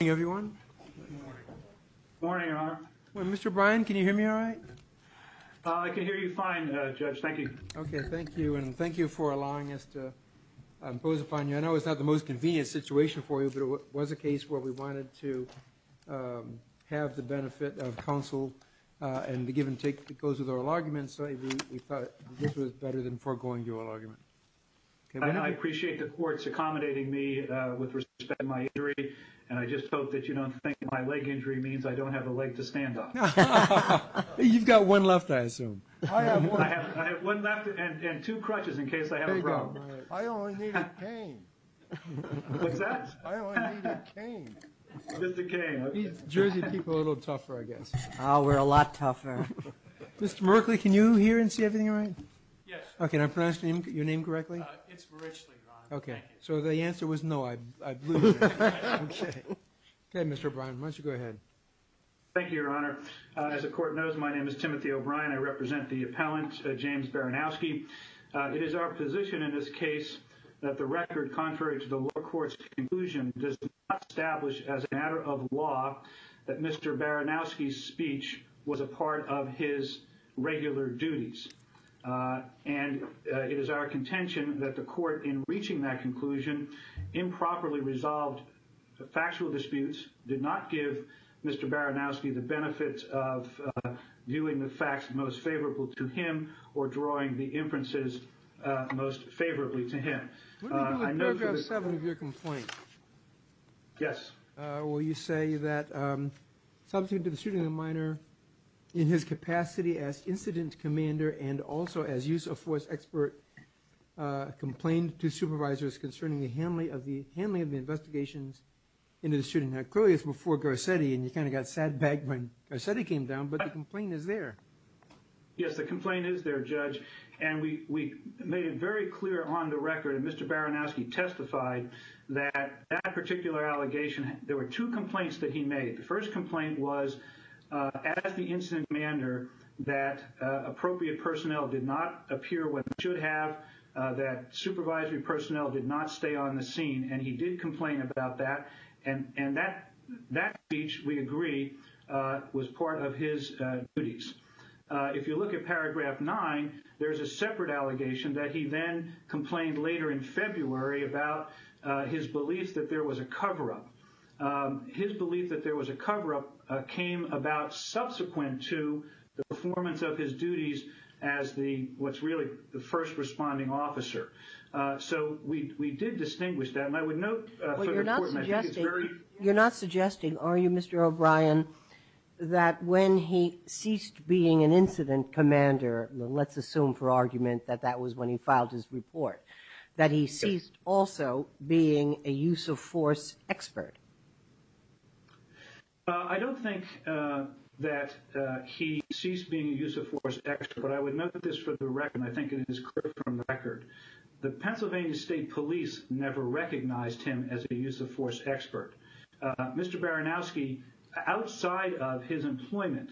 Good morning, everyone. Good morning, Your Honor. Mr. Bryan, can you hear me all right? I can hear you fine, Judge. Thank you. Okay, thank you, and thank you for allowing us to impose upon you. I know it's not the most convenient situation for you, but it was a case where we wanted to have the benefit of counsel and the give and take that goes with oral arguments, so we thought this was better than foregoing the oral argument. I appreciate the courts accommodating me with respect to my injury, and I just hope that you don't think my leg injury means I don't have a leg to stand on. You've got one left, I assume. I have one left and two crutches in case I have a problem. I only need a cane. What's that? I only need a cane. Just a cane, okay. These Jersey people are a little tougher, I guess. Oh, we're a lot tougher. Mr. Merkley, can you hear and see everything all right? Yes. Okay, can I pronounce your name correctly? It's Merichley, Your Honor. Okay, so the answer was no, I believe. Okay, Mr. O'Brien, why don't you go ahead. Thank you, Your Honor. As the Court knows, my name is Timothy O'Brien. I represent the appellant, James Baranowski. It is our position in this case that the record contrary to the lower court's conclusion does not establish as a matter of law that Mr. Baranowski's speech was a part of his regular duties. And it is our contention that the Court, in reaching that conclusion, improperly resolved factual disputes, did not give Mr. Baranowski the benefits of viewing the facts most favorable to him or drawing the inferences most favorably to him. What do we do with paragraph 7 of your complaint? Yes. Will you say that subsequent to the shooting of the minor, in his capacity as incident commander and also as use-of-force expert, complained to supervisors concerning the handling of the investigations into the shooting. Now, clearly it's before Garcetti, and you kind of got sad-bagged when Garcetti came down, but the complaint is there. Yes, the complaint is there, Judge, and we made it very clear on the record, and Mr. Baranowski testified that that particular allegation, there were two complaints that he made. The first complaint was, as the incident commander, that appropriate personnel did not appear when they should have, that supervisory personnel did not stay on the scene, and he did complain about that. And that speech, we agree, was part of his duties. If you look at paragraph 9, there's a separate allegation that he then complained later in February about his belief that there was a cover-up. His belief that there was a cover-up came about subsequent to the performance of his duties as the, what's really the first responding officer. So we did distinguish that, and I would note for the court, and I think it's very clear. You're not suggesting, are you, Mr. O'Brien, that when he ceased being an incident commander, let's assume for argument that that was when he filed his report, that he ceased also being a use-of-force expert? I don't think that he ceased being a use-of-force expert, but I would note this for the record, and I think it is clear from the record. The Pennsylvania State Police never recognized him as a use-of-force expert. Mr. Baranowski, outside of his employment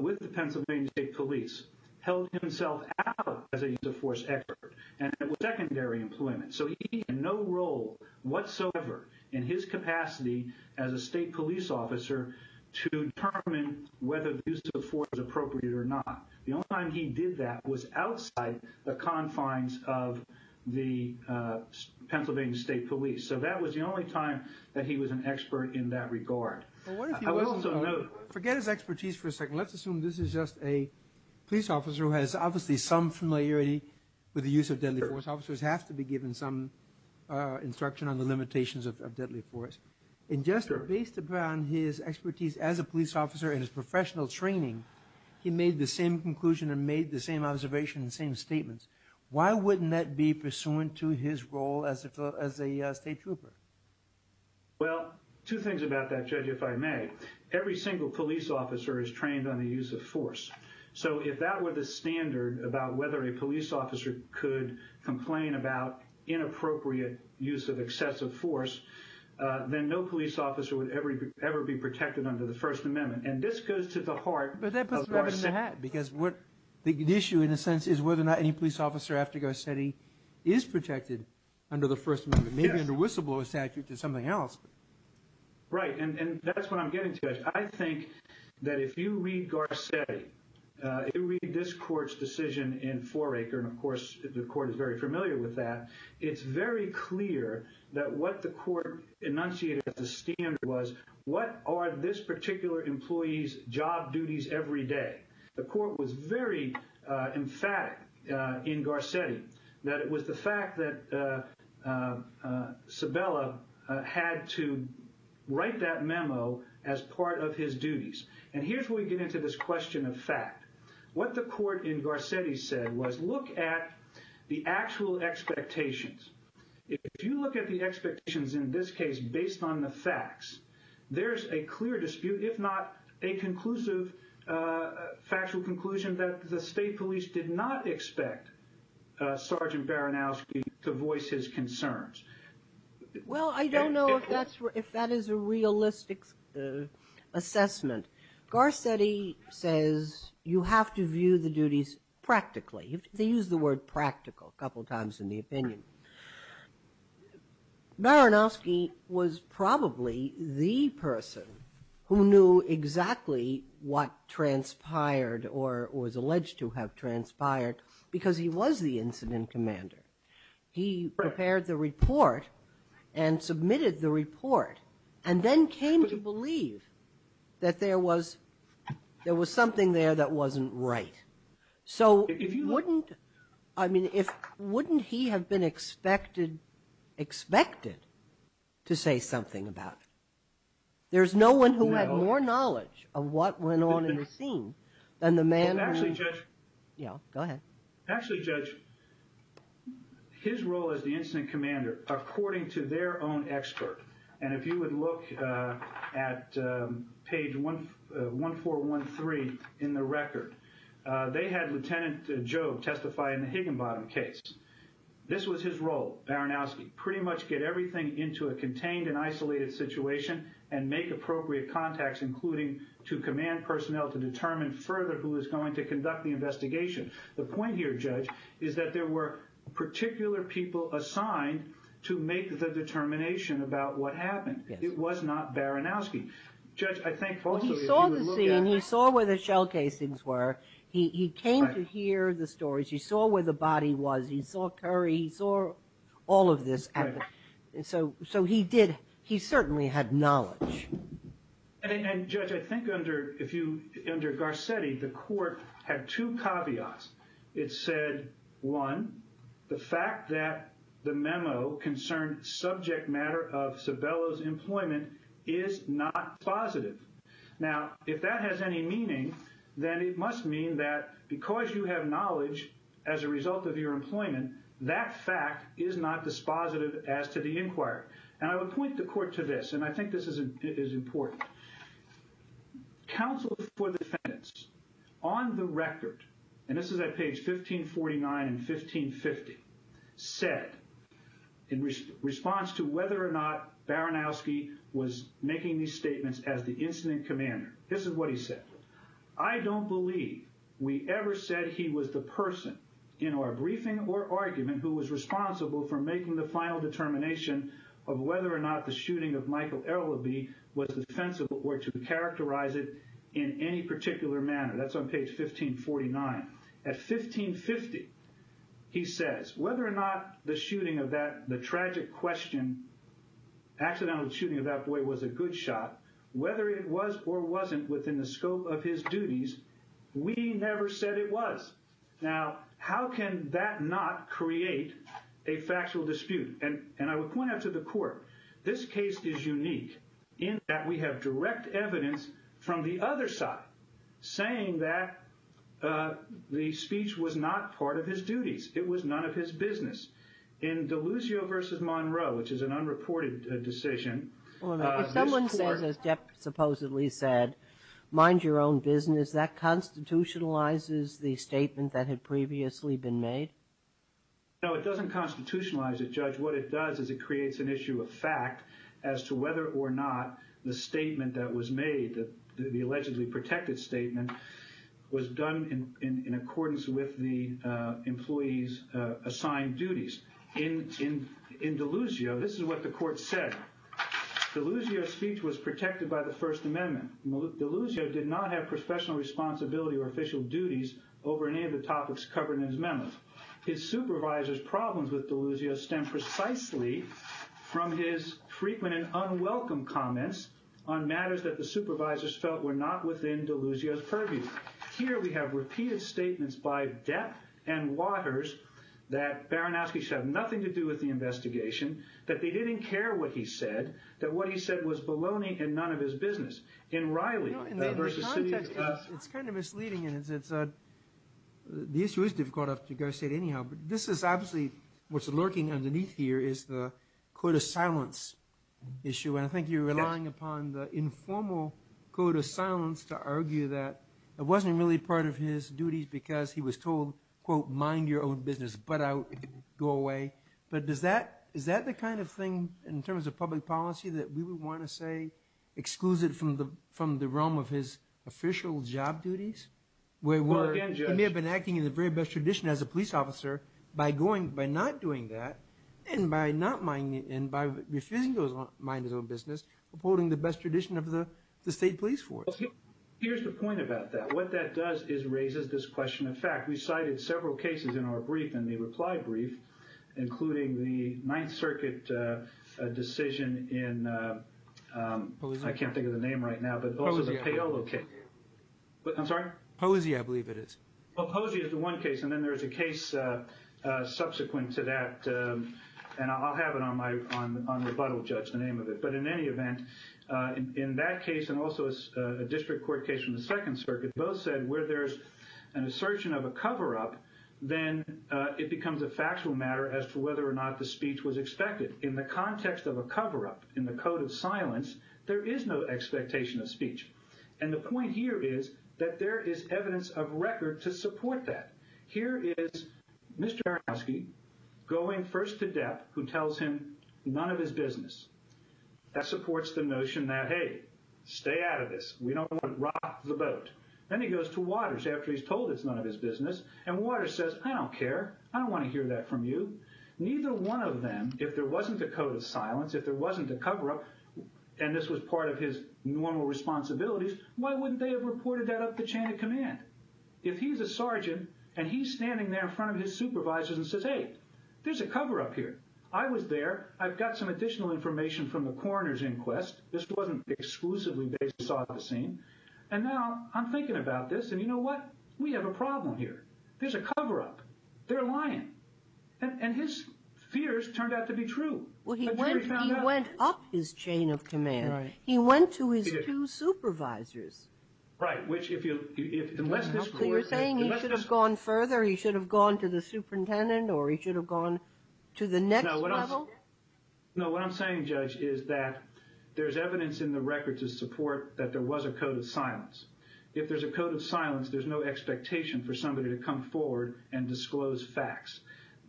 with the Pennsylvania State Police, held himself out as a use-of-force expert, and it was secondary employment. So he had no role whatsoever in his capacity as a state police officer to determine whether use-of-force was appropriate or not. The only time he did that was outside the confines of the Pennsylvania State Police. So that was the only time that he was an expert in that regard. I would also note... Forget his expertise for a second. Let's assume this is just a police officer who has obviously some familiarity with the use of deadly force. Officers have to be given some instruction on the limitations of deadly force. And just based upon his expertise as a police officer and his professional training, he made the same conclusion and made the same observation and the same statements. Why wouldn't that be pursuant to his role as a state trooper? Well, two things about that, Judge, if I may. Every single police officer is trained on the use of force. So if that were the standard about whether a police officer could complain about inappropriate use of excessive force, then no police officer would ever be protected under the First Amendment. And this goes to the heart of Garcetti. But that puts it in the hat because the issue in a sense is whether or not any police officer after Garcetti is protected under the First Amendment, maybe under whistleblower statute or something else. Right, and that's what I'm getting to, Judge. I think that if you read Garcetti, if you read this court's decision in Foraker, and, of course, the court is very familiar with that, it's very clear that what the court enunciated as a standard was what are this particular employee's job duties every day. The court was very emphatic in Garcetti that it was the fact that Sabella had to write that memo as part of his duties. And here's where we get into this question of fact. What the court in Garcetti said was look at the actual expectations. If you look at the expectations in this case based on the facts, there's a clear dispute, if not a conclusive factual conclusion, that the state police did not expect Sergeant Baranowski to voice his concerns. Well, I don't know if that is a realistic assessment. Garcetti says you have to view the duties practically. They use the word practical a couple times in the opinion. Baranowski was probably the person who knew exactly what transpired or was alleged to have transpired because he was the incident commander. He prepared the report and submitted the report and then came to believe that there was something there that wasn't right. So wouldn't he have been expected to say something about it? There's no one who had more knowledge of what went on in the scene than the man who... Actually, Judge, his role as the incident commander, according to their own expert, and if you would look at page 1413 in the record, they had Lieutenant Jobe testify in the Higginbottom case. This was his role, Baranowski, pretty much get everything into a contained and isolated situation and make appropriate contacts, including to command personnel to determine further who is going to conduct the investigation. The point here, Judge, is that there were particular people assigned to make the determination about what happened. It was not Baranowski. Judge, I think... He saw the scene. He saw where the shell casings were. He came to hear the stories. He saw where the body was. He saw Curry. He saw all of this. So he certainly had knowledge. And, Judge, I think under Garcetti, the court had two caveats. It said, one, the fact that the memo concerned subject matter of Sabello's employment is not dispositive. Now, if that has any meaning, then it must mean that because you have knowledge as a result of your employment, that fact is not dispositive as to the inquiry. And I would point the court to this, and I think this is important. Counsel for defendants, on the record, and this is at page 1549 and 1550, said in response to whether or not Baranowski was making these statements as the incident commander, this is what he said. I don't believe we ever said he was the person in our briefing or argument who was responsible for making the final determination of whether or not the shooting of Michael Ellaby was defensible or to characterize it in any particular manner. That's on page 1549. At 1550, he says, whether or not the shooting of that, the tragic question, accidental shooting of that boy was a good shot, whether it was or wasn't within the scope of his duties, we never said it was. Now, how can that not create a factual dispute? And I would point out to the court, this case is unique in that we have direct evidence from the other side saying that the speech was not part of his duties. It was none of his business. In Deluzio v. Monroe, which is an unreported decision, this court ---- If someone says, as Jeff supposedly said, mind your own business, that constitutionalizes the statement that had previously been made? No, it doesn't constitutionalize it, Judge. What it does is it creates an issue of fact as to whether or not the statement that was made, the allegedly protected statement, was done in accordance with the employee's assigned duties. In Deluzio, this is what the court said. Deluzio's speech was protected by the First Amendment. Deluzio did not have professional responsibility or official duties over any of the topics covered in his memo. His supervisor's problems with Deluzio stem precisely from his frequent and unwelcome comments on matters that the supervisors felt were not within Deluzio's purview. Here we have repeated statements by Depp and Waters that Baranowski should have nothing to do with the investigation, that they didn't care what he said, that what he said was baloney and none of his business. In Riley v. City of ---- It's kind of misleading. The issue is difficult, as you guys said, anyhow. But this is obviously, what's lurking underneath here is the court of silence issue. And I think you're relying upon the informal court of silence to argue that it wasn't really part of his duties because he was told, quote, mind your own business, butt out, go away. But is that the kind of thing in terms of public policy that we would want to say exclusive from the realm of his official job duties? He may have been acting in the very best tradition as a police officer by not doing that and by refusing to mind his own business, upholding the best tradition of the state police force. Here's the point about that. What that does is raises this question of fact. We cited several cases in our brief, in the reply brief, including the Ninth Circuit decision in I can't think of the name right now, but also the Paolo case. I'm sorry? Posey, I believe it is. Well, Posey is the one case, and then there's a case subsequent to that, and I'll have it on my rebuttal judge, the name of it. But in any event, in that case and also a district court case from the Second Circuit, both said where there's an assertion of a cover-up, then it becomes a factual matter as to whether or not the speech was expected. In the context of a cover-up, in the code of silence, there is no expectation of speech. And the point here is that there is evidence of record to support that. Here is Mr. Aronofsky going first to Depp, who tells him none of his business. That supports the notion that, hey, stay out of this. We don't want to rock the boat. Then he goes to Waters after he's told it's none of his business, and Waters says, I don't care. I don't want to hear that from you. Neither one of them, if there wasn't a code of silence, if there wasn't a cover-up, and this was part of his normal responsibilities, why wouldn't they have reported that up the chain of command? If he's a sergeant and he's standing there in front of his supervisors and says, hey, there's a cover-up here. I was there. I've got some additional information from the coroner's inquest. This wasn't exclusively based on the scene. And now I'm thinking about this, and you know what? We have a problem here. There's a cover-up. They're lying. And his fears turned out to be true. Well, he went up his chain of command. He went to his two supervisors. Right. So you're saying he should have gone further? He should have gone to the superintendent or he should have gone to the next level? No, what I'm saying, Judge, is that there's evidence in the record to support that there was a code of silence. If there's a code of silence, there's no expectation for somebody to come forward and disclose facts.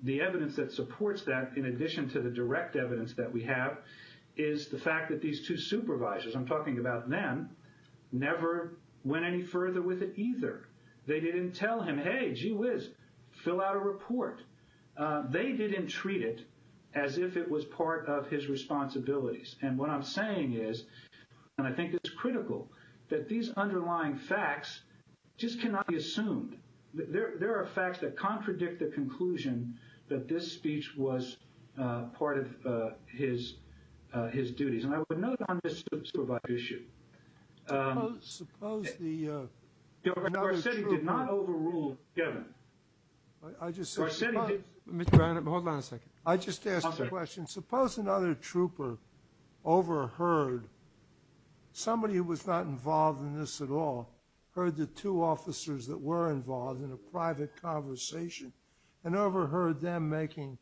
The evidence that supports that, in addition to the direct evidence that we have, is the fact that these two supervisors, I'm talking about them, never went any further with it either. They didn't tell him, hey, gee whiz, fill out a report. They didn't treat it as if it was part of his responsibilities. And what I'm saying is, and I think it's critical, that these underlying facts just cannot be assumed. There are facts that contradict the conclusion that this speech was part of his duties. And I would note on this supervisor issue. Suppose another trooper. Our city did not overrule Kevin. Hold on a second. I just asked a question. Suppose another trooper overheard somebody who was not involved in this at all, heard the two officers that were involved in a private conversation, and overheard them making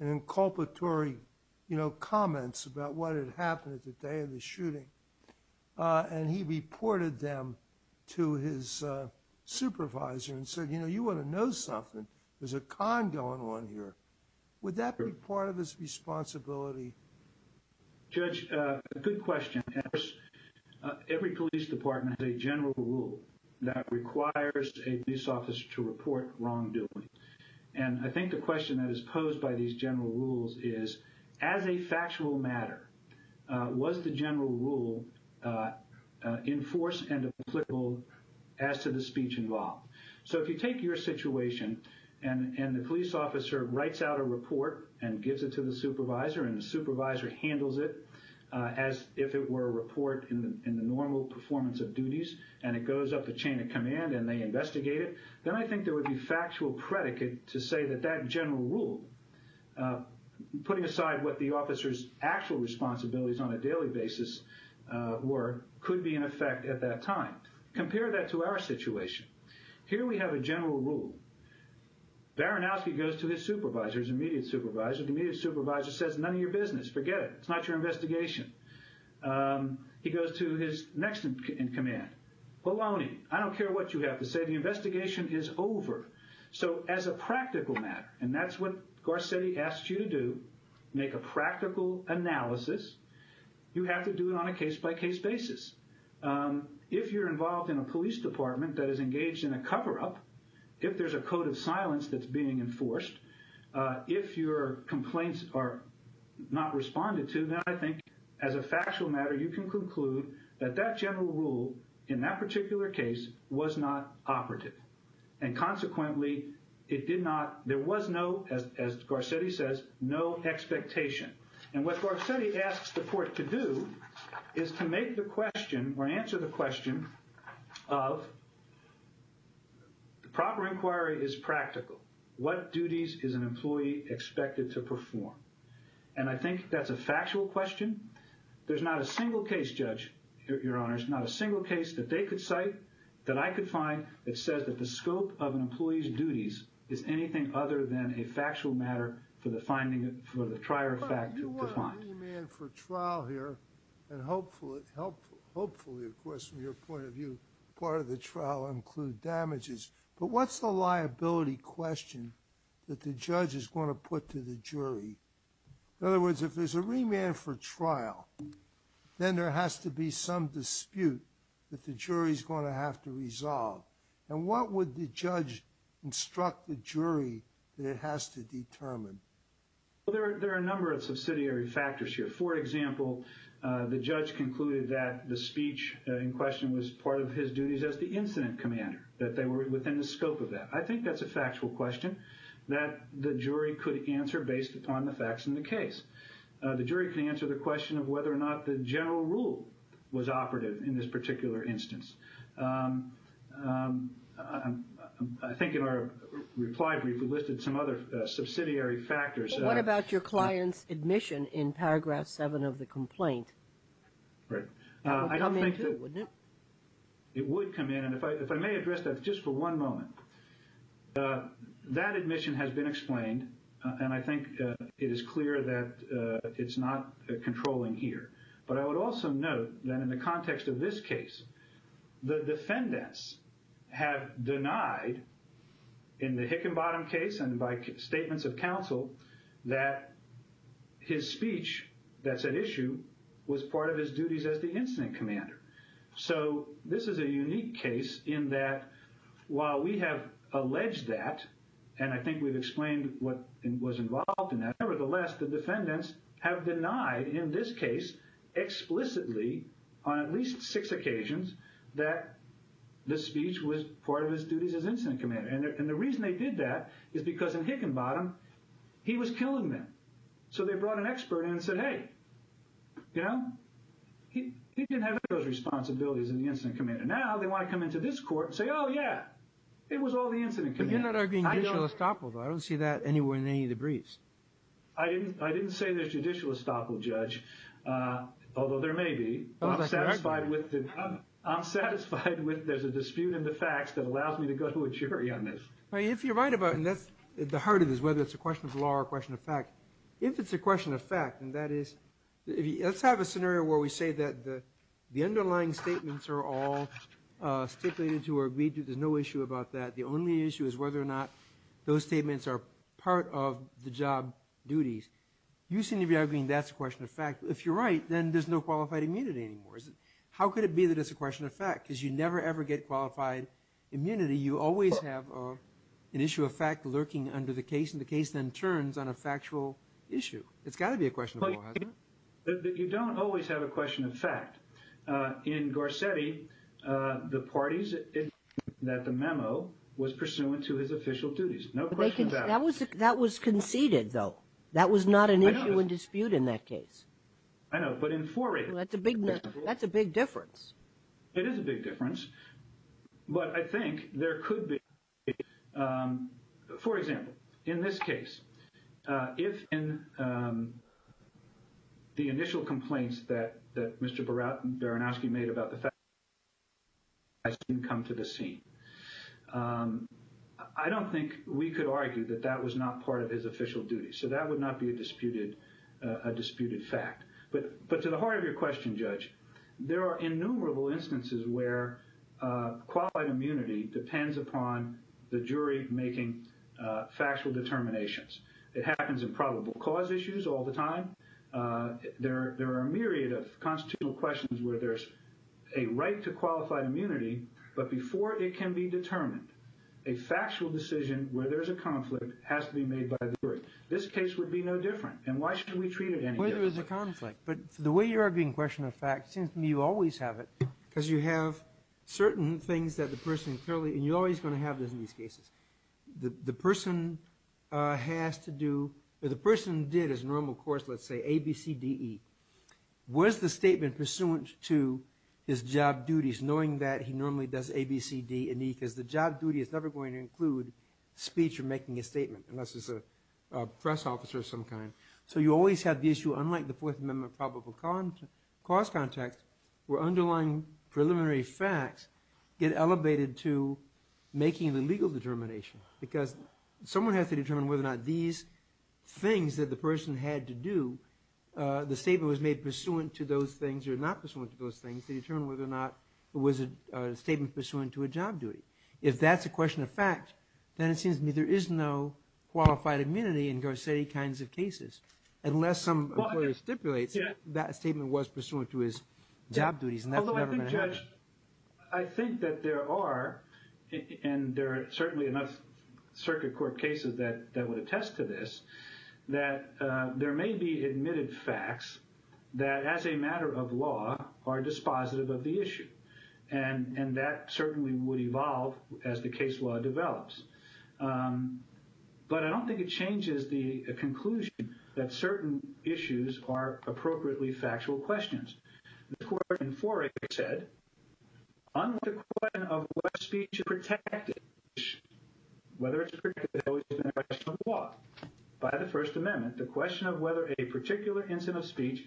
an inculpatory, you know, comments about what had happened at the day of the shooting. And he reported them to his supervisor and said, you know, you want to know something. There's a con going on here. Would that be part of his responsibility? Judge, good question. Every police department has a general rule that requires a police officer to report wrongdoing. And I think the question that is posed by these general rules is, as a factual matter, was the general rule enforced and applicable as to the speech involved? So if you take your situation and the police officer writes out a report and gives it to the supervisor and the supervisor handles it as if it were a report in the normal performance of duties and it goes up the chain of command and they investigate it, then I think there would be factual predicate to say that that general rule, putting aside what the officer's actual responsibilities on a daily basis were, could be in effect at that time. Compare that to our situation. Here we have a general rule. Baranowski goes to his supervisor, his immediate supervisor. The immediate supervisor says, none of your business. Forget it. It's not your investigation. He goes to his next in command. Polony, I don't care what you have to say. The investigation is over. So as a practical matter, and that's what Garcetti asked you to do, make a practical analysis, you have to do it on a case-by-case basis. If you're involved in a police department that is engaged in a cover-up, if there's a code of silence that's being enforced, if your complaints are not responded to, then I think as a factual matter you can conclude that that general rule, in that particular case, was not operative. And consequently, it did not, there was no, as Garcetti says, no expectation. And what Garcetti asks the court to do is to make the question or answer the question of the proper inquiry is practical. What duties is an employee expected to perform? And I think that's a factual question. There's not a single case, Judge, Your Honor, there's not a single case that they could cite, that I could find, that says that the scope of an employee's duties is anything other than a factual matter for the finding, for the prior fact to be defined. You want a new man for trial here, and hopefully, of course, from your point of view, part of the trial will include damages. But what's the liability question that the judge is going to put to the jury? In other words, if there's a remand for trial, then there has to be some dispute that the jury's going to have to resolve. And what would the judge instruct the jury that it has to determine? Well, there are a number of subsidiary factors here. For example, the judge concluded that the speech in question was part of his duties as the incident commander, that they were within the scope of that. I think that's a factual question that the jury could answer based upon the facts in the case. The jury can answer the question of whether or not the general rule was operative in this particular instance. I think in our reply brief, we listed some other subsidiary factors. Well, what about your client's admission in paragraph 7 of the complaint? Right. It would come in, and if I may address that just for one moment, that admission has been explained, and I think it is clear that it's not controlling here. But I would also note that in the context of this case, the defendants have denied in the Hickenbottom case and by statements of counsel that his speech that's at issue was part of his duties as the incident commander. So this is a unique case in that while we have alleged that, and I think we've explained what was involved in that, nevertheless, the defendants have denied in this case explicitly on at least six occasions that the speech was part of his duties as incident commander. And the reason they did that is because in Hickenbottom, he was killing them. So they brought an expert in and said, hey, you know, he didn't have those responsibilities in the incident commander. Now they want to come into this court and say, oh, yeah, it was all the incident commander. But you're not arguing judicial estoppel, though. I don't see that anywhere in any of the briefs. I didn't say there's judicial estoppel, Judge, although there may be. I'm satisfied with there's a dispute in the facts that allows me to go to a jury on this. If you're right about it, and that's the heart of this, whether it's a question of law or a question of fact, if it's a question of fact, and that is let's have a scenario where we say that the underlying statements are all stipulated to or agreed to, there's no issue about that. The only issue is whether or not those statements are part of the job duties. You seem to be arguing that's a question of fact. If you're right, then there's no qualified immunity anymore. How could it be that it's a question of fact? Because you never, ever get qualified immunity. You always have an issue of fact lurking under the case, and the case then turns on a factual issue. It's got to be a question of law, hasn't it? You don't always have a question of fact. In Garcetti, the parties that the memo was pursuant to his official duties. No question about it. That was conceded, though. That was not an issue and dispute in that case. I know, but in Foray. That's a big difference. It is a big difference, but I think there could be. For example, in this case, if in the initial complaints that Mr. Baranowski made about the fact that So that would not be a disputed fact. But to the heart of your question, Judge, there are innumerable instances where qualified immunity depends upon the jury making factual determinations. It happens in probable cause issues all the time. There are a myriad of constitutional questions where there's a right to qualified immunity, but before it can be determined, a factual decision where there's a conflict has to be made by the jury. This case would be no different, and why should we treat it any different? Well, there is a conflict, but the way you're arguing question of fact, it seems to me you always have it, because you have certain things that the person clearly, and you're always going to have this in these cases. The person has to do, or the person did his normal course, let's say, A, B, C, D, E. Was the statement pursuant to his job duties, knowing that he normally does A, B, C, D, and E, because the job duty is never going to include speech or making a statement, unless it's a press officer of some kind. So you always have the issue, unlike the Fourth Amendment probable cause context, where underlying preliminary facts get elevated to making the legal determination, because someone has to determine whether or not these things that the person had to do, the statement was made pursuant to those things or not pursuant to those things, to determine whether or not it was a statement pursuant to a job duty. If that's a question of fact, then it seems to me there is no qualified immunity in Garcetti kinds of cases, unless some employer stipulates that statement was pursuant to his job duties, and that's never going to happen. Although I think, Judge, I think that there are, and there are certainly enough Circuit Court cases that would attest to this, that there may be admitted facts that, as a matter of law, are dispositive of the issue, and that certainly would evolve as the case law develops. But I don't think it changes the conclusion that certain issues are appropriately factual questions. The court in Forex said, unlike the question of what speech is protected, whether it's protected or not, by the First Amendment, the question of whether a particular incident of speech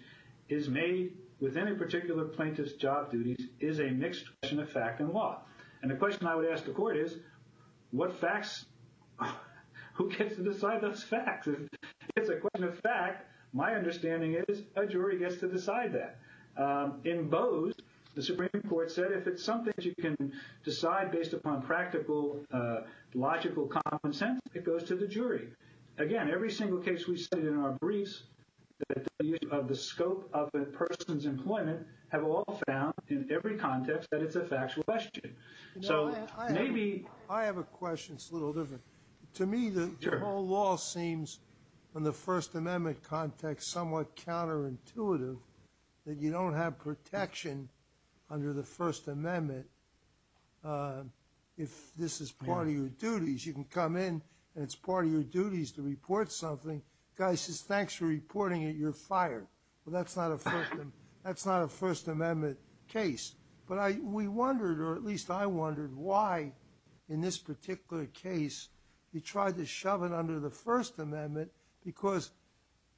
is made with any particular plaintiff's job duties is a mixed question of fact and law. And the question I would ask the court is, what facts, who gets to decide those facts? If it's a question of fact, my understanding is a jury gets to decide that. In Bose, the Supreme Court said if it's something that you can decide based upon practical, logical common sense, it goes to the jury. Again, every single case we studied in our briefs of the scope of a person's employment have all found, in every context, that it's a factual question. I have a question that's a little different. To me, the whole law seems, in the First Amendment context, somewhat counterintuitive, that you don't have protection under the First Amendment if this is part of your duties. You can come in, and it's part of your duties to report something. The guy says, thanks for reporting it. You're fired. Well, that's not a First Amendment case. But we wondered, or at least I wondered, why, in this particular case, you tried to shove it under the First Amendment because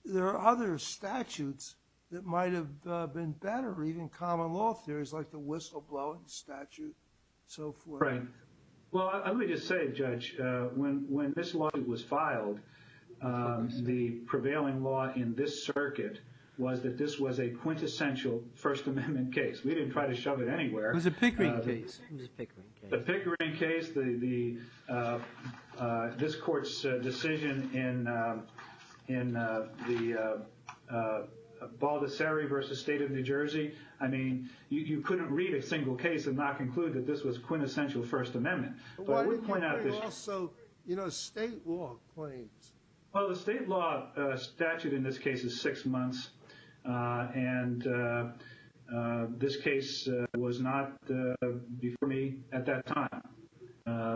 there are other statutes that might have been better, even common law theories like the whistleblowing statute and so forth. Right. Well, let me just say, Judge, when this law was filed, the prevailing law in this circuit was that this was a quintessential First Amendment case. We didn't try to shove it anywhere. It was a Pickering case. It was a Pickering case. The Pickering case, this Court's decision in the Baldessari v. State of New Jersey, I mean, you couldn't read a single case and not conclude that this was a quintessential First Amendment. But I would point out this- Why didn't you do also state law claims? Well, the state law statute in this case is six months. And this case was not before me at that time.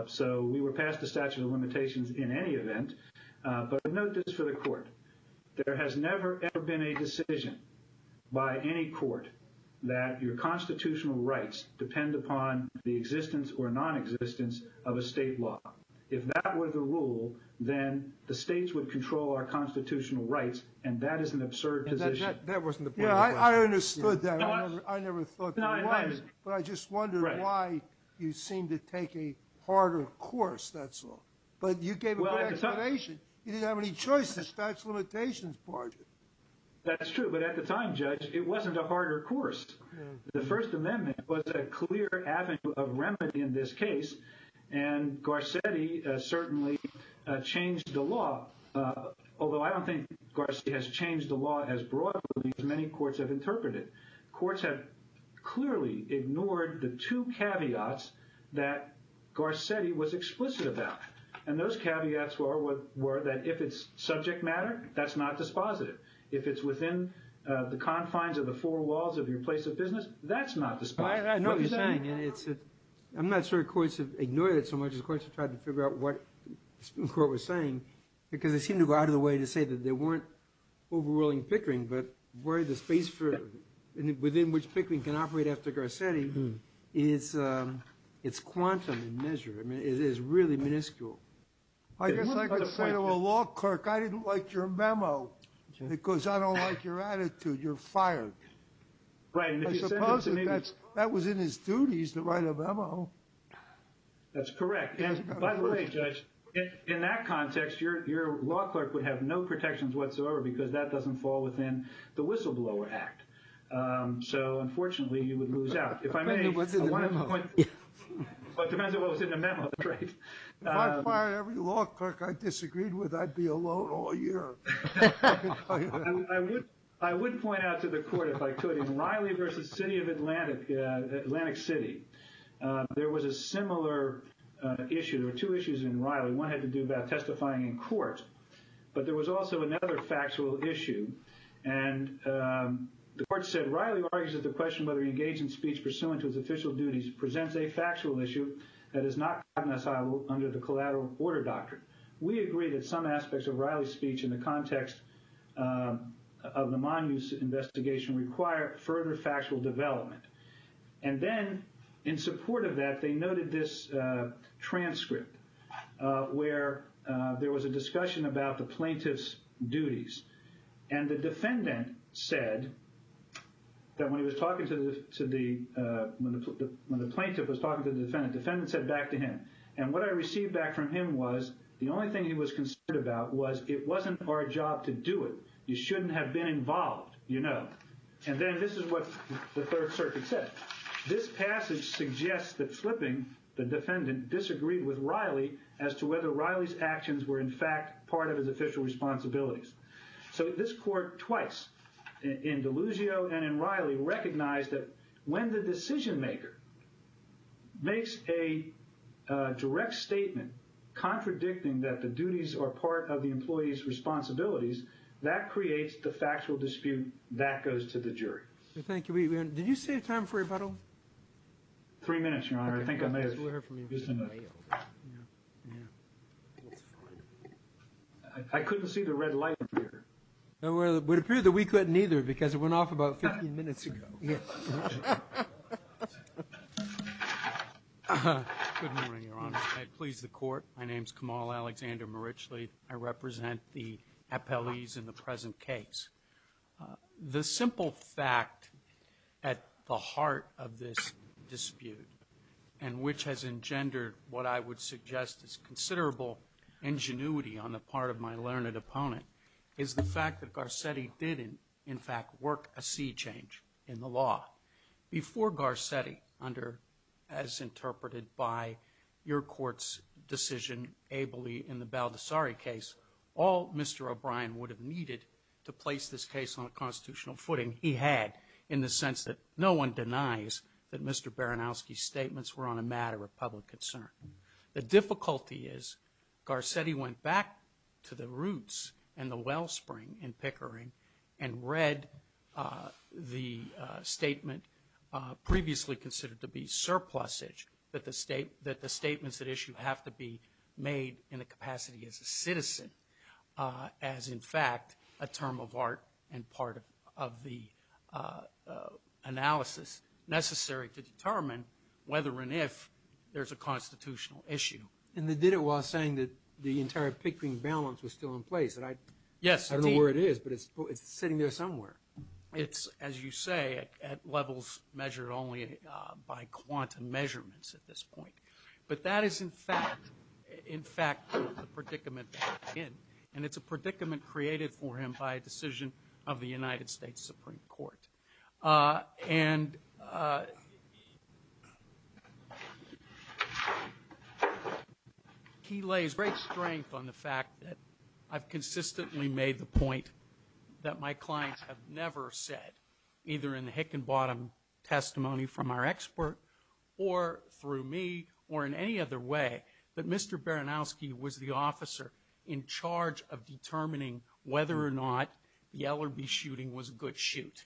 So we were past the statute of limitations in any event. But note this for the Court. There has never, ever been a decision by any court that your constitutional rights depend upon the existence or non-existence of a state law. If that were the rule, then the states would control our constitutional rights, and that is an absurd position. That wasn't the point of the question. I understood that. I never thought that it was. But I just wondered why you seemed to take a harder course, that's all. But you gave a good explanation. You didn't have any choice. The statute of limitations barred you. That's true. But at the time, Judge, it wasn't a harder course. The First Amendment was a clear avenue of remedy in this case, and Garcetti certainly changed the law, although I don't think Garcetti has changed the law as broadly as many courts have interpreted. Courts have clearly ignored the two caveats that Garcetti was explicit about. And those caveats were that if it's subject matter, that's not dispositive. If it's within the confines of the four walls of your place of business, that's not dispositive. I'm not sure courts have ignored it so much as courts have tried to figure out what the Supreme Court was saying, because it seemed to go out of the way to say that there weren't overruling Pickering, but within which Pickering can operate after Garcetti, it's quantum in measure. It is really minuscule. I guess I could say to a law clerk, I didn't like your memo because I don't like your attitude. You're fired. I suppose that was in his duties to write a memo. That's correct. And by the way, Judge, in that context, your law clerk would have no protections whatsoever because that doesn't fall within the whistleblower act. So unfortunately, you would lose out. If I may, it depends on what was in the memo. If I fired every law clerk I disagreed with, I'd be alone all year. I would point out to the court, if I could, in Riley v. City of Atlantic City, there was a similar issue. There were two issues in Riley. One had to do about testifying in court, but there was also another factual issue. And the court said, Riley argues that the question whether he engaged in speech pursuant to his official duties presents a factual issue that is not cognizable under the collateral order doctrine. We agree that some aspects of Riley's speech in the context of the Monmouth investigation require further factual development. And then, in support of that, they noted this transcript where there was a discussion about the plaintiff's duties. And the defendant said that when the plaintiff was talking to the defendant, the defendant said back to him. And what I received back from him was the only thing he was concerned about was it wasn't our job to do it. You shouldn't have been involved, you know. And then this is what the Third Circuit said. This passage suggests that Flipping, the defendant, disagreed with Riley as to whether Riley's actions were in fact part of his official responsibilities. So this court twice, in Delugio and in Riley, recognized that when the decision-maker makes a direct statement contradicting that the duties are part of the employee's responsibilities, that creates the factual dispute that goes to the jury. Thank you. Did you save time for rebuttal? Three minutes, Your Honor. I think I may have used enough. I couldn't see the red light. It would appear that we couldn't either because it went off about 15 minutes ago. Good morning, Your Honor. I please the Court. My name is Kamal Alexander Marichli. I represent the appellees in the present case. The simple fact at the heart of this dispute and which has engendered what I would suggest is considerable ingenuity on the part of my learned opponent is the fact that Garcetti did, in fact, work a sea change in the law. Before Garcetti, as interpreted by your Court's decision ably in the Baldessari case, all Mr. O'Brien would have needed to place this case on a constitutional footing he had in the sense that no one denies that Mr. Baranowski's statements were on a matter of public concern. The difficulty is Garcetti went back to the roots and the wellspring in Pickering and read the statement previously considered to be surplusage that the statements at issue have to be made in the capacity as a citizen as, in fact, a term of art and part of the analysis necessary to determine whether and if there's a constitutional issue. And they did it while saying that the entire Pickering balance was still in place. Yes. I don't know where it is, but it's sitting there somewhere. It's, as you say, at levels measured only by quantum measurements at this point. But that is, in fact, the predicament that he's in, and it's a predicament created for him by a decision of the United States Supreme Court. And he lays great strength on the fact that I've consistently made the point that my clients have never said, either in the hick and bottom testimony from our expert or through me or in any other way, that Mr. Baranowski was the officer in charge of determining whether or not the Ellerbee shooting was a good shoot.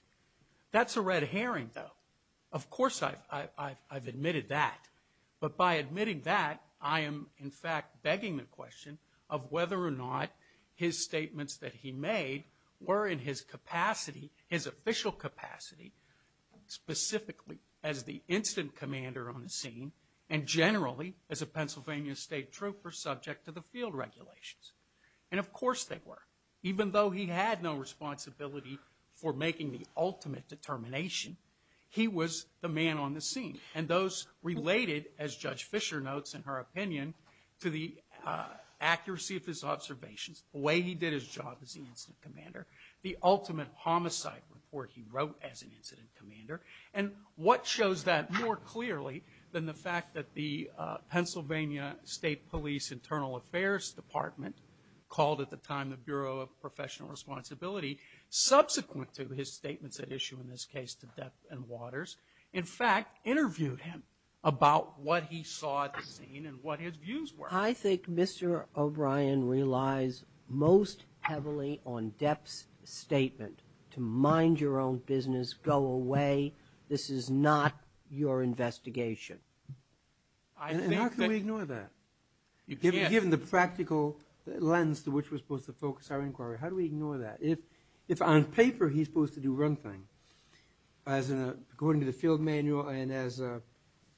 That's a red herring, though. Of course, I've admitted that. But by admitting that, I am, in fact, begging the question of whether or not his statements that he made were in his capacity, his official capacity, specifically as the instant commander on the scene, and generally as a Pennsylvania State Trooper subject to the field regulations. And of course they were. Even though he had no responsibility for making the ultimate determination, he was the man on the scene. And those related, as Judge Fischer notes in her opinion, to the accuracy of his observations, the way he did his job as the incident commander, the ultimate homicide report he wrote as an that the Pennsylvania State Police Internal Affairs Department, called at the time the Bureau of Professional Responsibility, subsequent to his statements at issue in this case to Depp and Waters, in fact interviewed him about what he saw at the scene and what his views were. I think Mr. O'Brien relies most heavily on Depp's statement to mind your own business, go away. This is not your investigation. And how can we ignore that? Given the practical lens to which we're supposed to focus our inquiry, how do we ignore that? If on paper he's supposed to do one thing, according to the field manual and as a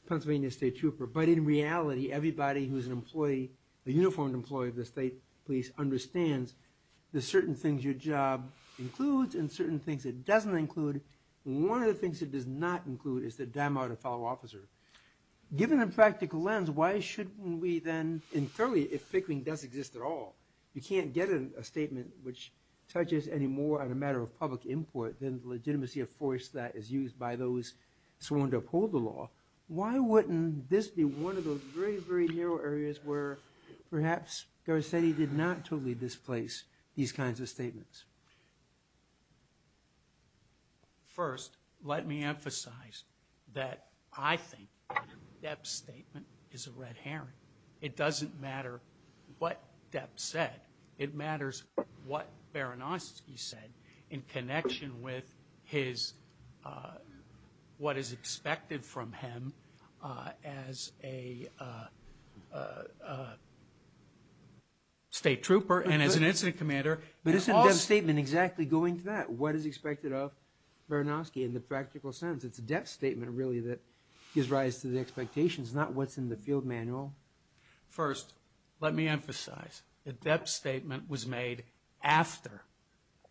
Pennsylvania State Trooper, but in reality everybody who's an employee, a uniformed employee of the State Police, understands there's certain things your job includes and certain things it doesn't include. One of the things it does not include is to dim out a fellow officer. Given the practical lens, why shouldn't we then, and clearly if Pickering does exist at all, you can't get a statement which touches any more on a matter of public import than the legitimacy of force that is used by those sworn to uphold the law. Why wouldn't this be one of those very, very narrow areas where perhaps Garcetti did not totally displace these kinds of statements? First, let me emphasize that I think Depp's statement is a red herring. It doesn't matter what Depp said. It matters what Baranowski said in connection with his, what is expected from him as a State Trooper and as an incident commander. But isn't Depp's statement exactly going to that? What is expected of Baranowski in the practical sense? It's Depp's statement really that gives rise to the expectations, not what's in the field manual. First, let me emphasize that Depp's statement was made after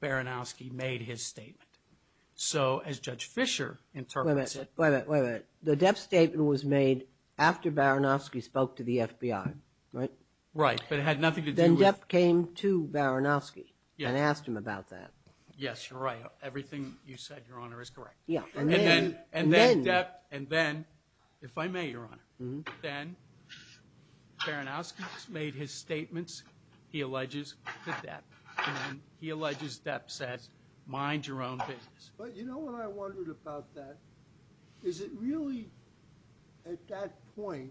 Baranowski made his statement. So as Judge Fischer interprets it... Wait a minute, wait a minute. The Depp statement was made after Baranowski spoke to the FBI, right? Right, but it had nothing to do with... And asked him about that. Yes, you're right. Everything you said, Your Honor, is correct. And then, if I may, Your Honor, then Baranowski made his statements. He alleges that Depp said, mind your own business. But you know what I wondered about that? Is it really, at that point,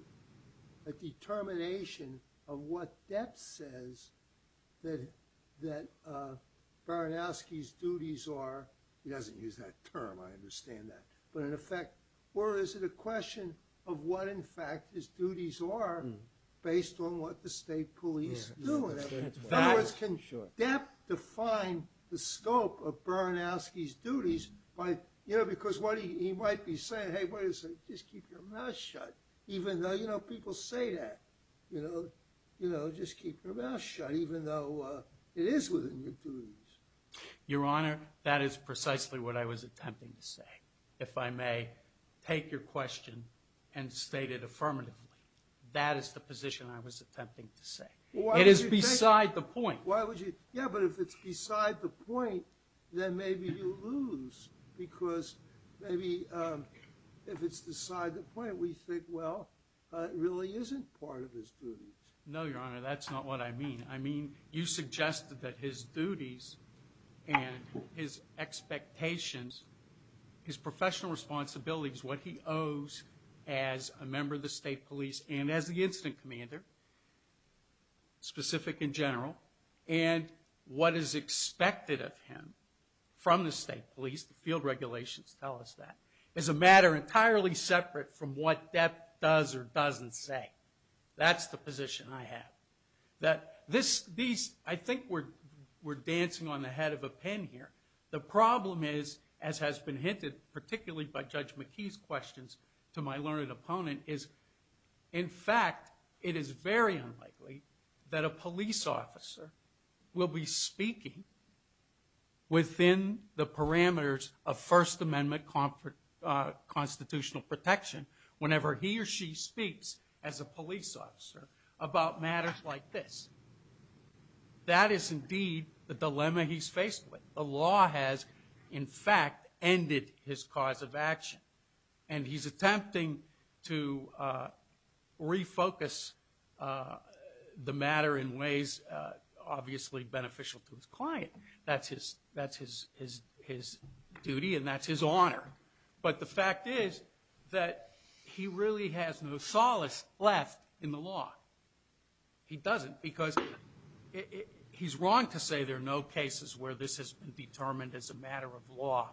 a determination of what Depp says that Baranowski's duties are? He doesn't use that term, I understand that. But in effect, or is it a question of what, in fact, his duties are based on what the State Police do? In other words, can Depp define the scope of Baranowski's duties? Because he might be saying, just keep your mouth shut, even though people say that. Just keep your mouth shut, even though it is within your duties. Your Honor, that is precisely what I was attempting to say. If I may take your question and state it affirmatively. That is the position I was attempting to say. It is beside the point. Yeah, but if it's beside the point, then maybe you lose. Because maybe if it's beside the point, we think, well, it really isn't part of his duties. No, Your Honor, that's not what I mean. I mean, you suggested that his duties and his expectations, his professional responsibilities, what he owes as a member of the State Police and as the incident commander, specific in general, and what is expected of him from the State Police, the field regulations tell us that, is a matter entirely separate from what Depp does or doesn't say. That's the position I have. I think we're dancing on the head of a pin here. The problem is, as has been hinted, particularly by Judge McKee's questions to my learned opponent, is, in fact, it is very unlikely that a police officer will be speaking within the parameters of First Amendment constitutional protection whenever he or she speaks as a police officer about matters like this. That is indeed the dilemma he's faced with. The law has, in fact, ended his cause of action. And he's attempting to refocus the matter in ways obviously beneficial to his client. That's his duty and that's his honor. But the fact is that he really has no solace left in the law. He doesn't because he's wrong to say there are no cases where this has been determined as a matter of law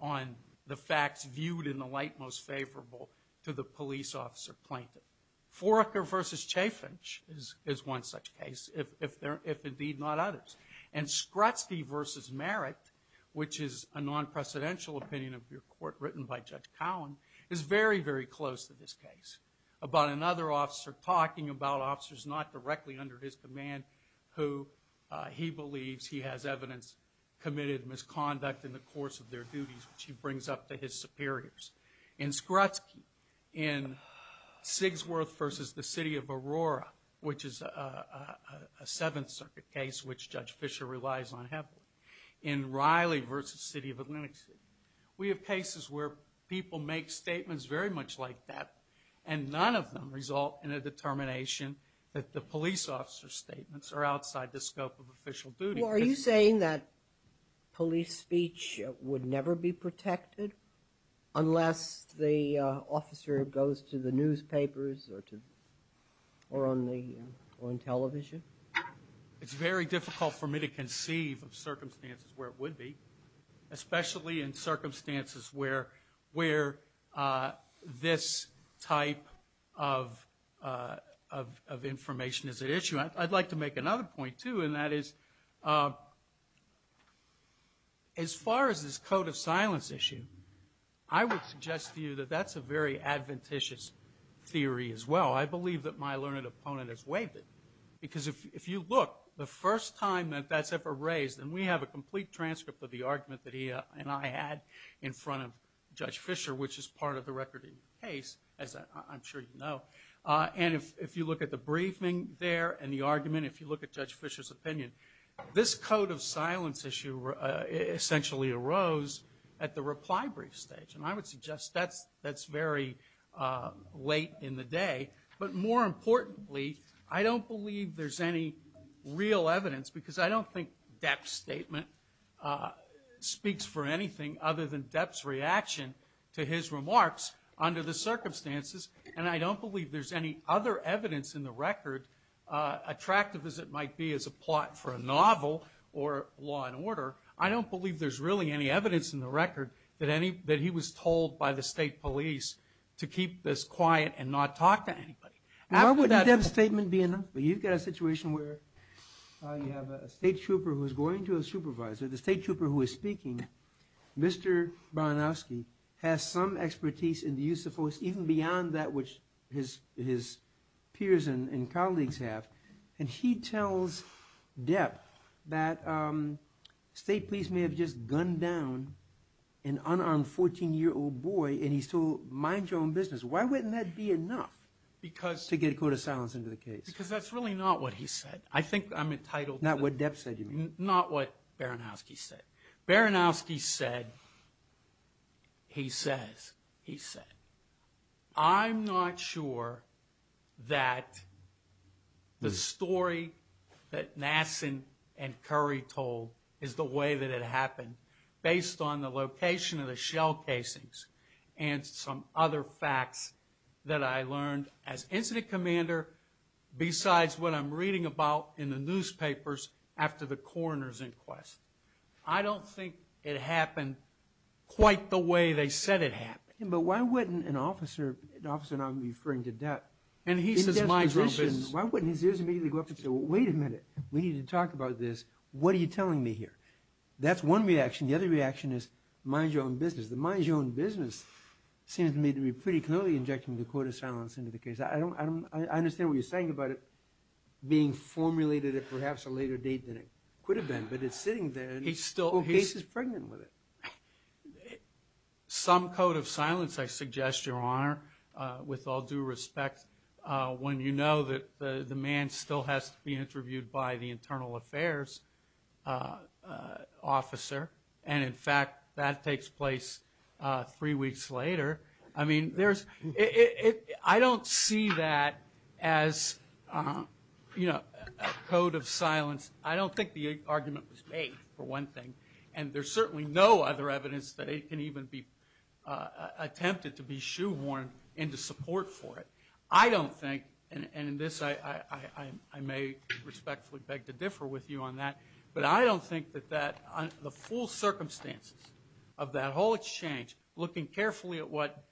on the facts viewed in the light most favorable to the police officer plaintiff. Foraker v. Chaffinch is one such case, if indeed not others. And Skrutsky v. Merritt, which is a non-precedential opinion of your court written by Judge Cowen, is very, very close to this case about another officer talking about officers not directly under his command who he believes he has evidence committed misconduct in the course of their duties, which he brings up to his superiors. In Skrutsky, in Sigsworth v. The City of Aurora, which is a Seventh Circuit case which Judge Fischer relies on heavily, in Riley v. City of Atlantic City, we have cases where people make statements very much like that and none of them result in a determination that the police officer's statements are outside the scope of official duty. Are you saying that police speech would never be protected unless the officer goes to the newspapers or on television? It's very difficult for me to conceive of circumstances where it would be, especially in circumstances where this type of information is at issue. I'd like to make another point, too, and that is as far as this code of silence issue, I would suggest to you that that's a very adventitious theory as well. I believe that my learned opponent has waived it because if you look, the first time that that's ever raised, and we have a complete transcript of the argument that he and I had in front of Judge Fischer, which is part of the record in the case, as I'm sure you know, and if you look at the briefing there and the argument, if you look at Judge Fischer's opinion, this code of silence issue essentially arose at the reply brief stage, and I would suggest that's very late in the day. But more importantly, I don't believe there's any real evidence, because I don't think Depp's statement speaks for anything other than Depp's reaction to his remarks under the circumstances, and I don't believe there's any other evidence in the record, attractive as it might be as a plot for a novel or law and order, I don't believe there's really any evidence in the record that he was told by the state police to keep this quiet and not talk to anybody. Why wouldn't Depp's statement be enough? You've got a situation where you have a state trooper who's going to a supervisor, the state trooper who is speaking, Mr. Bronowski has some expertise in the use of force even beyond that which his peers and colleagues have, and he tells Depp that state police may have just gunned down an unarmed 14-year-old boy and he's told, mind your own business, why wouldn't that be enough to get a code of silence into the case? Because that's really not what he said. Not what Depp said you mean? Not what Bronowski said. Bronowski said, he says, he said, I'm not sure that the story that Nassan and Curry told is the way that it happened based on the location of the shell casings and some other facts that I learned as incident commander besides what I'm reading about in the newspapers after the coroner's inquest. I don't think it happened quite the way they said it happened. But why wouldn't an officer, and I'm referring to Depp. And he says, mind your own business. Why wouldn't his ears immediately go up and say, wait a minute, we need to talk about this. What are you telling me here? That's one reaction. The other reaction is, mind your own business. The mind your own business seems to me to be pretty clearly injecting the code of silence into the case. I understand what you're saying about it being formulated at perhaps a later date than it could have been. But it's sitting there and the case is pregnant with it. Some code of silence, I suggest, Your Honor, with all due respect. When you know that the man still has to be interviewed by the internal affairs officer. And in fact, that takes place three weeks later. I don't see that as a code of silence. I don't think the argument was made, for one thing. And there's certainly no other evidence that it can even be attempted to be shoehorned into support for it. I don't think, and in this I may respectfully beg to differ with you on that. But I don't think that the full circumstances of that whole exchange, looking carefully at what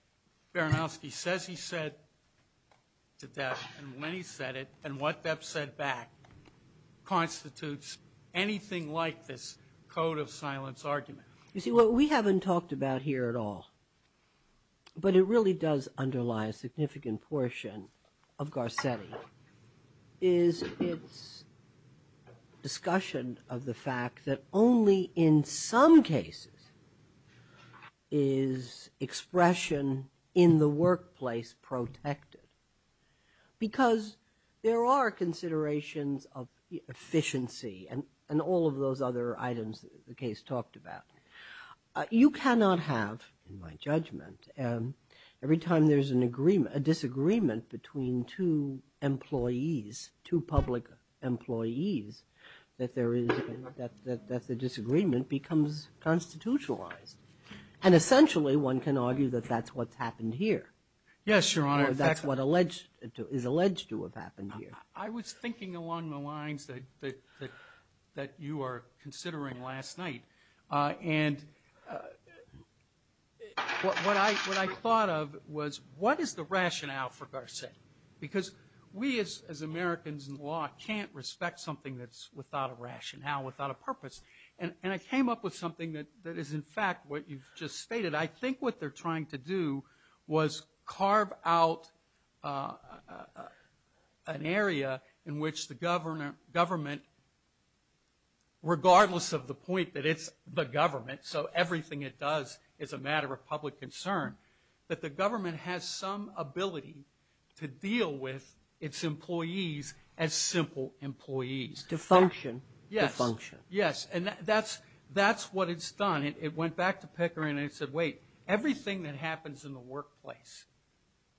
Baranowski says he said to Depp, and when he said it, and what Depp said back, constitutes anything like this code of silence argument. You see, what we haven't talked about here at all, but it really does underlie a significant portion of Garcetti, is its discussion of the fact that only in some cases is expression in the workplace protected. Because there are considerations of efficiency and all of those other items the case talked about. You cannot have, in my judgment, every time there's a disagreement between two employees, two public employees, that the disagreement becomes constitutionalized. And essentially, one can argue that that's what's happened here. Yes, Your Honor. That's what is alleged to have happened here. I was thinking along the lines that you were considering last night. And what I thought of was, what is the rationale for Garcetti? Because we, as Americans in law, can't respect something that's without a rationale, without a purpose. And I came up with something that is, in fact, what you've just stated. I think what they're trying to do was carve out an area in which the government, regardless of the point that it's the government, so everything it does is a matter of public concern, that the government has some ability to deal with its employees as simple employees. To function. Yes. To function. Yes. And that's what it's done. And it went back to Pickering and it said, wait, everything that happens in the workplace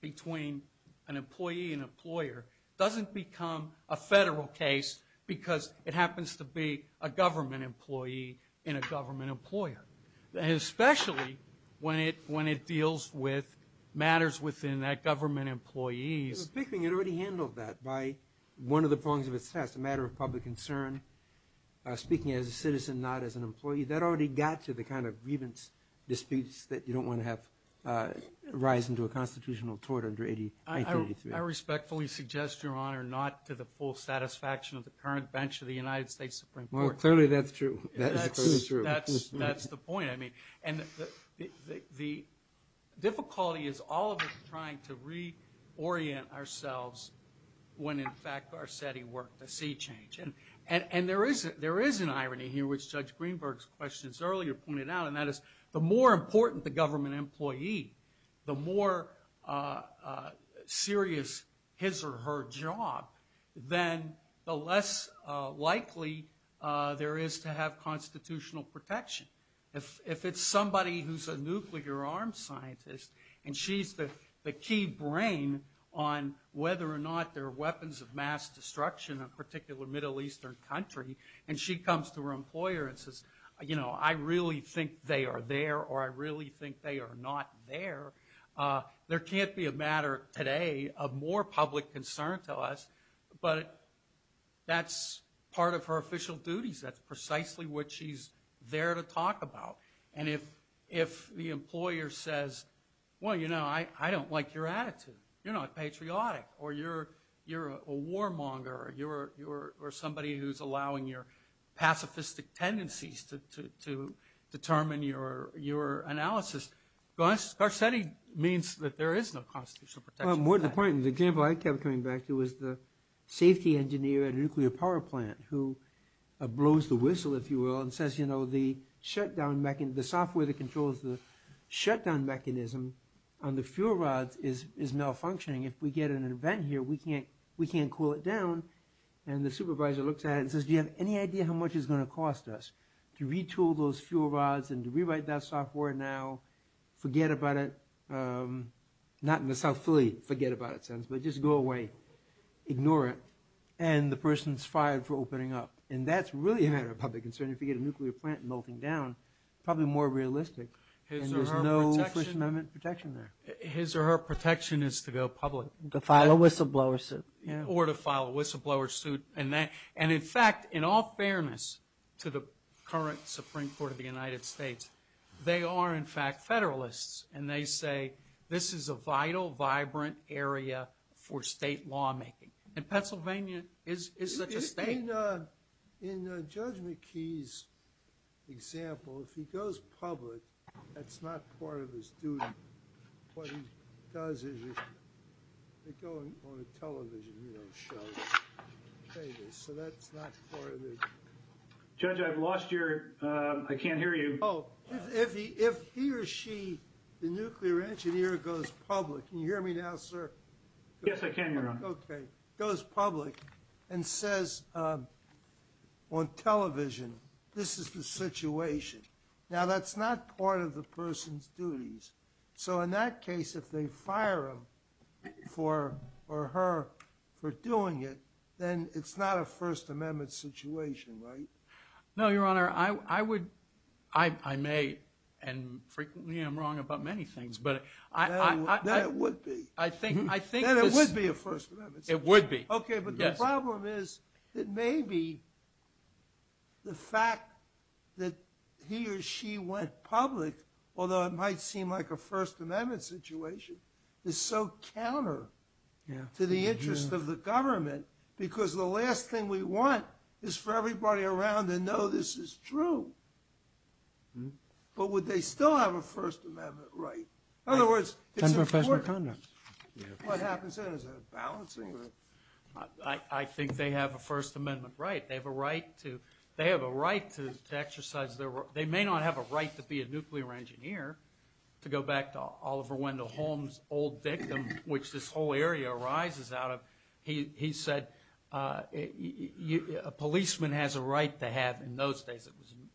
between an employee and an employer doesn't become a federal case because it happens to be a government employee and a government employer. Especially when it deals with matters within that government employees. Pickering had already handled that by one of the prongs of its test, a matter of public concern, speaking as a citizen, not as an employee. That already got to the kind of grievance disputes that you don't want to have rise into a constitutional court under 1983. I respectfully suggest, Your Honor, not to the full satisfaction of the current bench of the United States Supreme Court. Well, clearly that's true. That is clearly true. That's the point. I mean, and the difficulty is all of us trying to reorient ourselves when, in fact, Garcetti worked the sea change. And there is an irony here, which Judge Greenberg's questions earlier pointed out, and that is the more important the government employee, the more serious his or her job, then the less likely there is to have constitutional protection. If it's somebody who's a nuclear arms scientist and she's the key brain on whether or not there are weapons of mass destruction in a particular Middle Eastern country, and she comes to her employer and says, you know, I really think they are there or I really think they are not there, there can't be a matter today of more public concern to us, but that's part of her official duties. That's precisely what she's there to talk about. And if the employer says, well, you know, I don't like your attitude, you're not patriotic, or you're a warmonger, or you're somebody who's allowing your pacifistic tendencies to determine your analysis, Garcetti means that there is no constitutional protection. More to the point, the example I kept coming back to was the safety engineer at a nuclear power plant who blows the whistle, if you will, and says, you know, the shutdown, the software that controls the shutdown mechanism on the fuel rods is malfunctioning. If we get an event here, we can't cool it down. And the supervisor looks at it and says, do you have any idea how much it's going to cost us to retool those fuel rods and to rewrite that software now, forget about it, not in the South Philly forget about it sense, but just go away, ignore it, and the person's fired for opening up. And that's really a matter of public concern. If you get a nuclear plant melting down, probably more realistic. And there's no First Amendment protection there. His or her protection is to go public. To file a whistleblower suit. Or to file a whistleblower suit. And in fact, in all fairness to the current Supreme Court of the United States, they are in fact Federalists, and they say this is a vital, vibrant area for state lawmaking. And Pennsylvania is such a state. In Judge McKee's example, if he goes public, that's not part of his duty. What he does is go on a television show. So that's not part of it. Judge, I've lost your, I can't hear you. Oh, if he or she, the nuclear engineer goes public, can you hear me now, sir? Yes, I can, Your Honor. Okay. Goes public and says on television, this is the situation. Now that's not part of the person's duties. So in that case, if they fire him or her for doing it, then it's not a First Amendment situation, right? No, Your Honor. I would, I may, and frequently I'm wrong about many things. Then it would be. Then it would be a First Amendment situation. It would be. Okay, but the problem is that maybe the fact that he or she went public, although it might seem like a First Amendment situation, is so counter to the interest of the government because the last thing we want is for everybody around to know this is true. But would they still have a First Amendment right? In other words, it's important. What happens then is a balancing act. I think they have a First Amendment right. They have a right to exercise their right. They may not have a right to be a nuclear engineer, to go back to Oliver Wendell Holmes' old dictum, which this whole area arises out of. He said a policeman has a right to have, in those days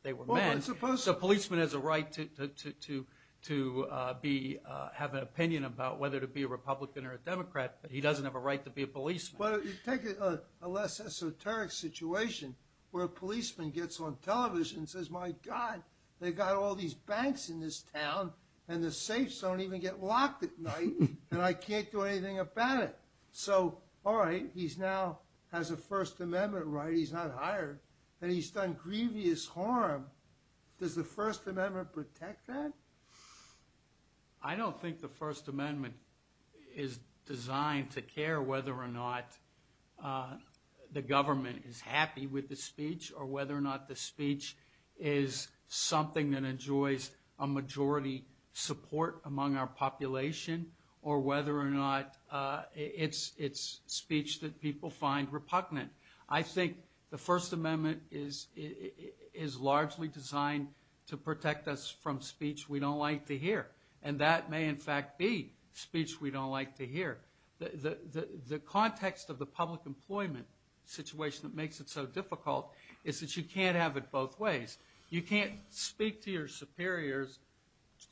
they were men. So a policeman has a right to have an opinion about whether to be a Republican or a Democrat, but he doesn't have a right to be a policeman. But take a less esoteric situation where a policeman gets on television and says, my God, they've got all these banks in this town and the safes don't even get locked at night, and I can't do anything about it. So, all right, he now has a First Amendment right. He's not hired and he's done grievous harm. Does the First Amendment protect that? I don't think the First Amendment is designed to care whether or not the government is happy with the speech or whether or not the speech is something that enjoys a majority support among our population or whether or not it's speech that people find repugnant. I think the First Amendment is largely designed to protect us from speech we don't like to hear, and that may in fact be speech we don't like to hear. The context of the public employment situation that makes it so difficult is that you can't have it both ways. You can't speak to your superiors,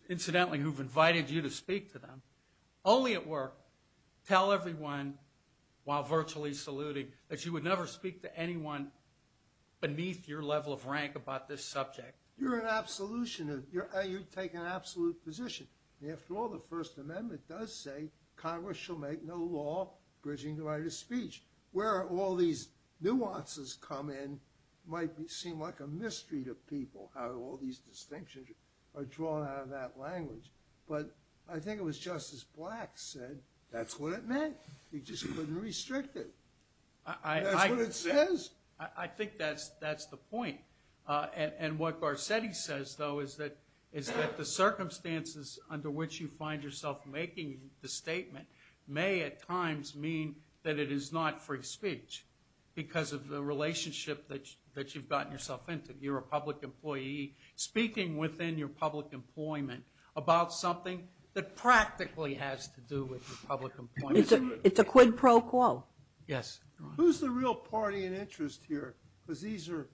incidentally, who've invited you to speak to them, only at work. Tell everyone, while virtually saluting, that you would never speak to anyone beneath your level of rank about this subject. You're an absolutionist. You take an absolute position. After all, the First Amendment does say Congress shall make no law bridging the right of speech. Where all these nuances come in might seem like a mystery to people, how all these distinctions are drawn out of that language. But I think it was Justice Black said, that's what it meant. You just couldn't restrict it. That's what it says. I think that's the point. And what Garcetti says, though, is that the circumstances under which you find yourself making the statement may at times mean that it is not free speech because of the relationship that you've gotten yourself into. You're a public employee speaking within your public employment about something that practically has to do with public employment. It's a quid pro quo. Yes. Who's the real party in interest here? Because these are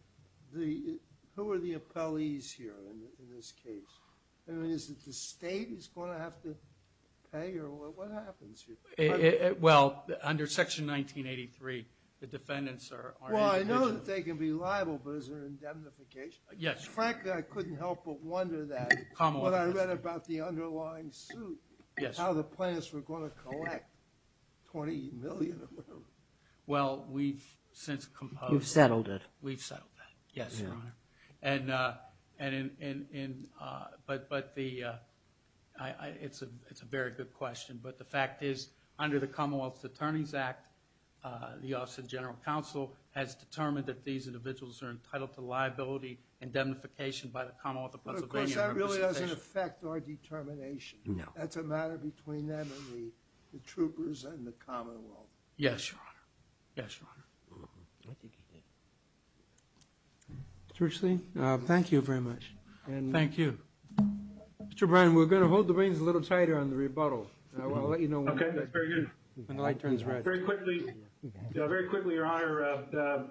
the, who are the appellees here in this case? I mean, is it the state is going to have to pay, or what happens here? Well, under Section 1983, the defendants are individuals. Well, I know that they can be liable, but is there indemnification? Yes. Frankly, I couldn't help but wonder that when I read about the underlying suit, how the plaintiffs were going to collect $20 million or whatever. Well, we've since composed. You've settled it. We've settled that, yes, Your Honor. It's a very good question. But the fact is, under the Commonwealth Attorneys Act, the Office of General Counsel has determined that these individuals are entitled to liability indemnification by the Commonwealth of Pennsylvania. Of course, that really doesn't affect our determination. No. That's a matter between them and the troopers and the Commonwealth. Yes, Your Honor. Yes, Your Honor. I think he did. Mr. Richley, thank you very much. Thank you. Mr. Bryan, we're going to hold the reins a little tighter on the rebuttal. Okay, that's very good. When the light turns red. Very quickly, Your Honor,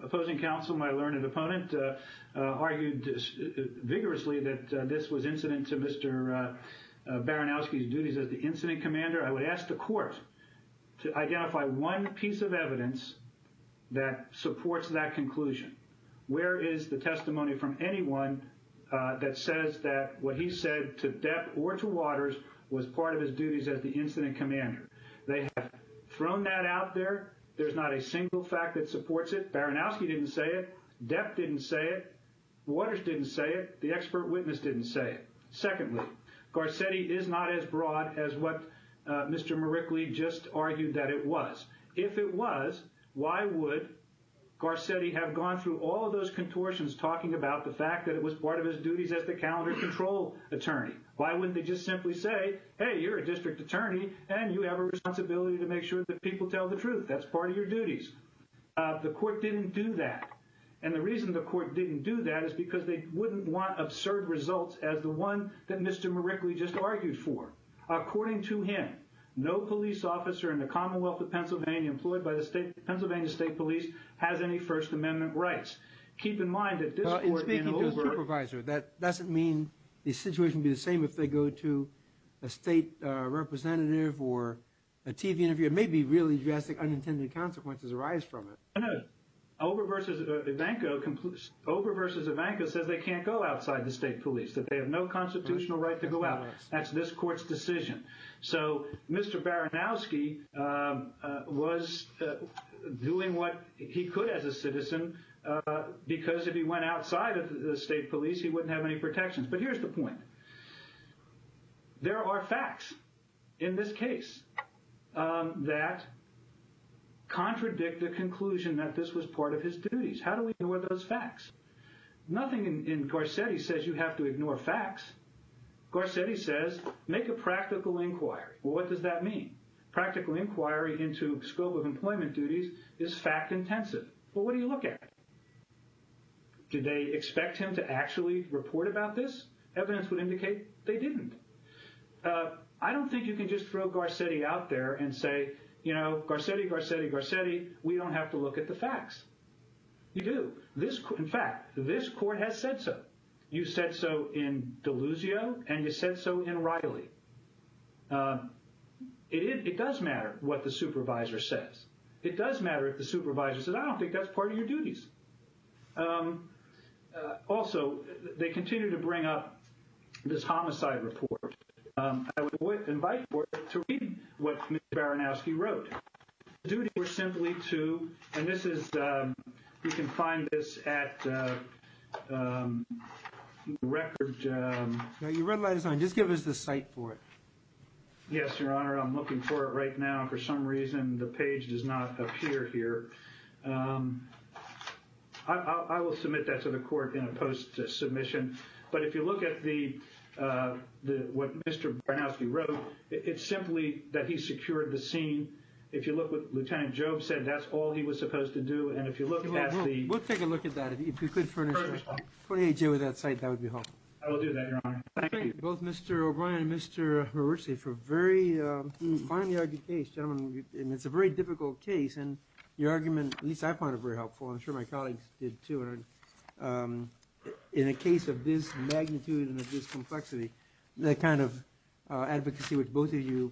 opposing counsel, my learned opponent, argued vigorously that this was incident to Mr. Baranowski's duties as the incident commander. I would ask the court to identify one piece of evidence that supports that conclusion. Where is the testimony from anyone that says that what he said to Depp or to Waters was part of his duties as the incident commander? They have thrown that out there. There's not a single fact that supports it. Baranowski didn't say it. Depp didn't say it. Waters didn't say it. The expert witness didn't say it. Secondly, Garcetti is not as broad as what Mr. Marickley just argued that it was. If it was, why would Garcetti have gone through all of those contortions talking about the fact that it was part of his duties as the calendar control attorney? Why wouldn't they just simply say, hey, you're a district attorney, and you have a responsibility to make sure that people tell the truth. That's part of your duties. The court didn't do that. And the reason the court didn't do that is because they wouldn't want absurd results as the one that Mr. Marickley just argued for. According to him, no police officer in the Commonwealth of Pennsylvania employed by the Pennsylvania State Police has any First Amendment rights. In speaking to a supervisor, that doesn't mean the situation would be the same if they go to a state representative or a TV interview. It may be really drastic, unintended consequences arise from it. No, no. Ober v. Ivanko says they can't go outside the state police, that they have no constitutional right to go out. That's this court's decision. So Mr. Baranowski was doing what he could as a citizen because if he went outside of the state police, he wouldn't have any protections. But here's the point. There are facts in this case that contradict the conclusion that this was part of his duties. How do we ignore those facts? Nothing in Garcetti says you have to ignore facts. Garcetti says make a practical inquiry. Well, what does that mean? Practical inquiry into scope of employment duties is fact intensive. Well, what do you look at? Did they expect him to actually report about this? Evidence would indicate they didn't. I don't think you can just throw Garcetti out there and say, you know, Garcetti, Garcetti, Garcetti, we don't have to look at the facts. You do. In fact, this court has said so. You said so in Deluzio and you said so in Riley. It does matter what the supervisor says. It does matter if the supervisor says, I don't think that's part of your duties. Also, they continue to bring up this homicide report. I would invite you to read what Mr. Baranowski wrote. We're simply too. And this is you can find this at record. You realize I just give us the site for it. Yes, Your Honor. I'm looking for it right now. For some reason, the page does not appear here. I will submit that to the court in a post submission. But if you look at the what Mr. Baranowski wrote, it's simply that he secured the scene. If you look with Lieutenant Job said that's all he was supposed to do. And if you look at the. We'll take a look at that. If you could. For a day with that site, that would be helpful. I will do that. Thank you. Both Mr. O'Brien and Mr. Hersey for a very finely argued case. Gentlemen, it's a very difficult case. And your argument, at least I find it very helpful. I'm sure my colleagues did, too. In a case of this magnitude and of this complexity, that kind of advocacy with both of you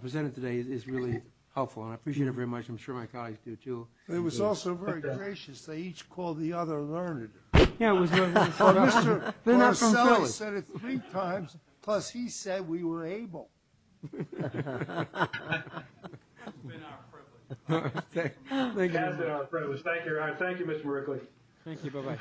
presented today is really helpful. And I appreciate it very much. I'm sure my colleagues do, too. It was also very gracious. They each called the other learned. Yeah, it was. Then I said it three times. Plus, he said we were able. Thank you. Thank you. Bye bye. Bye.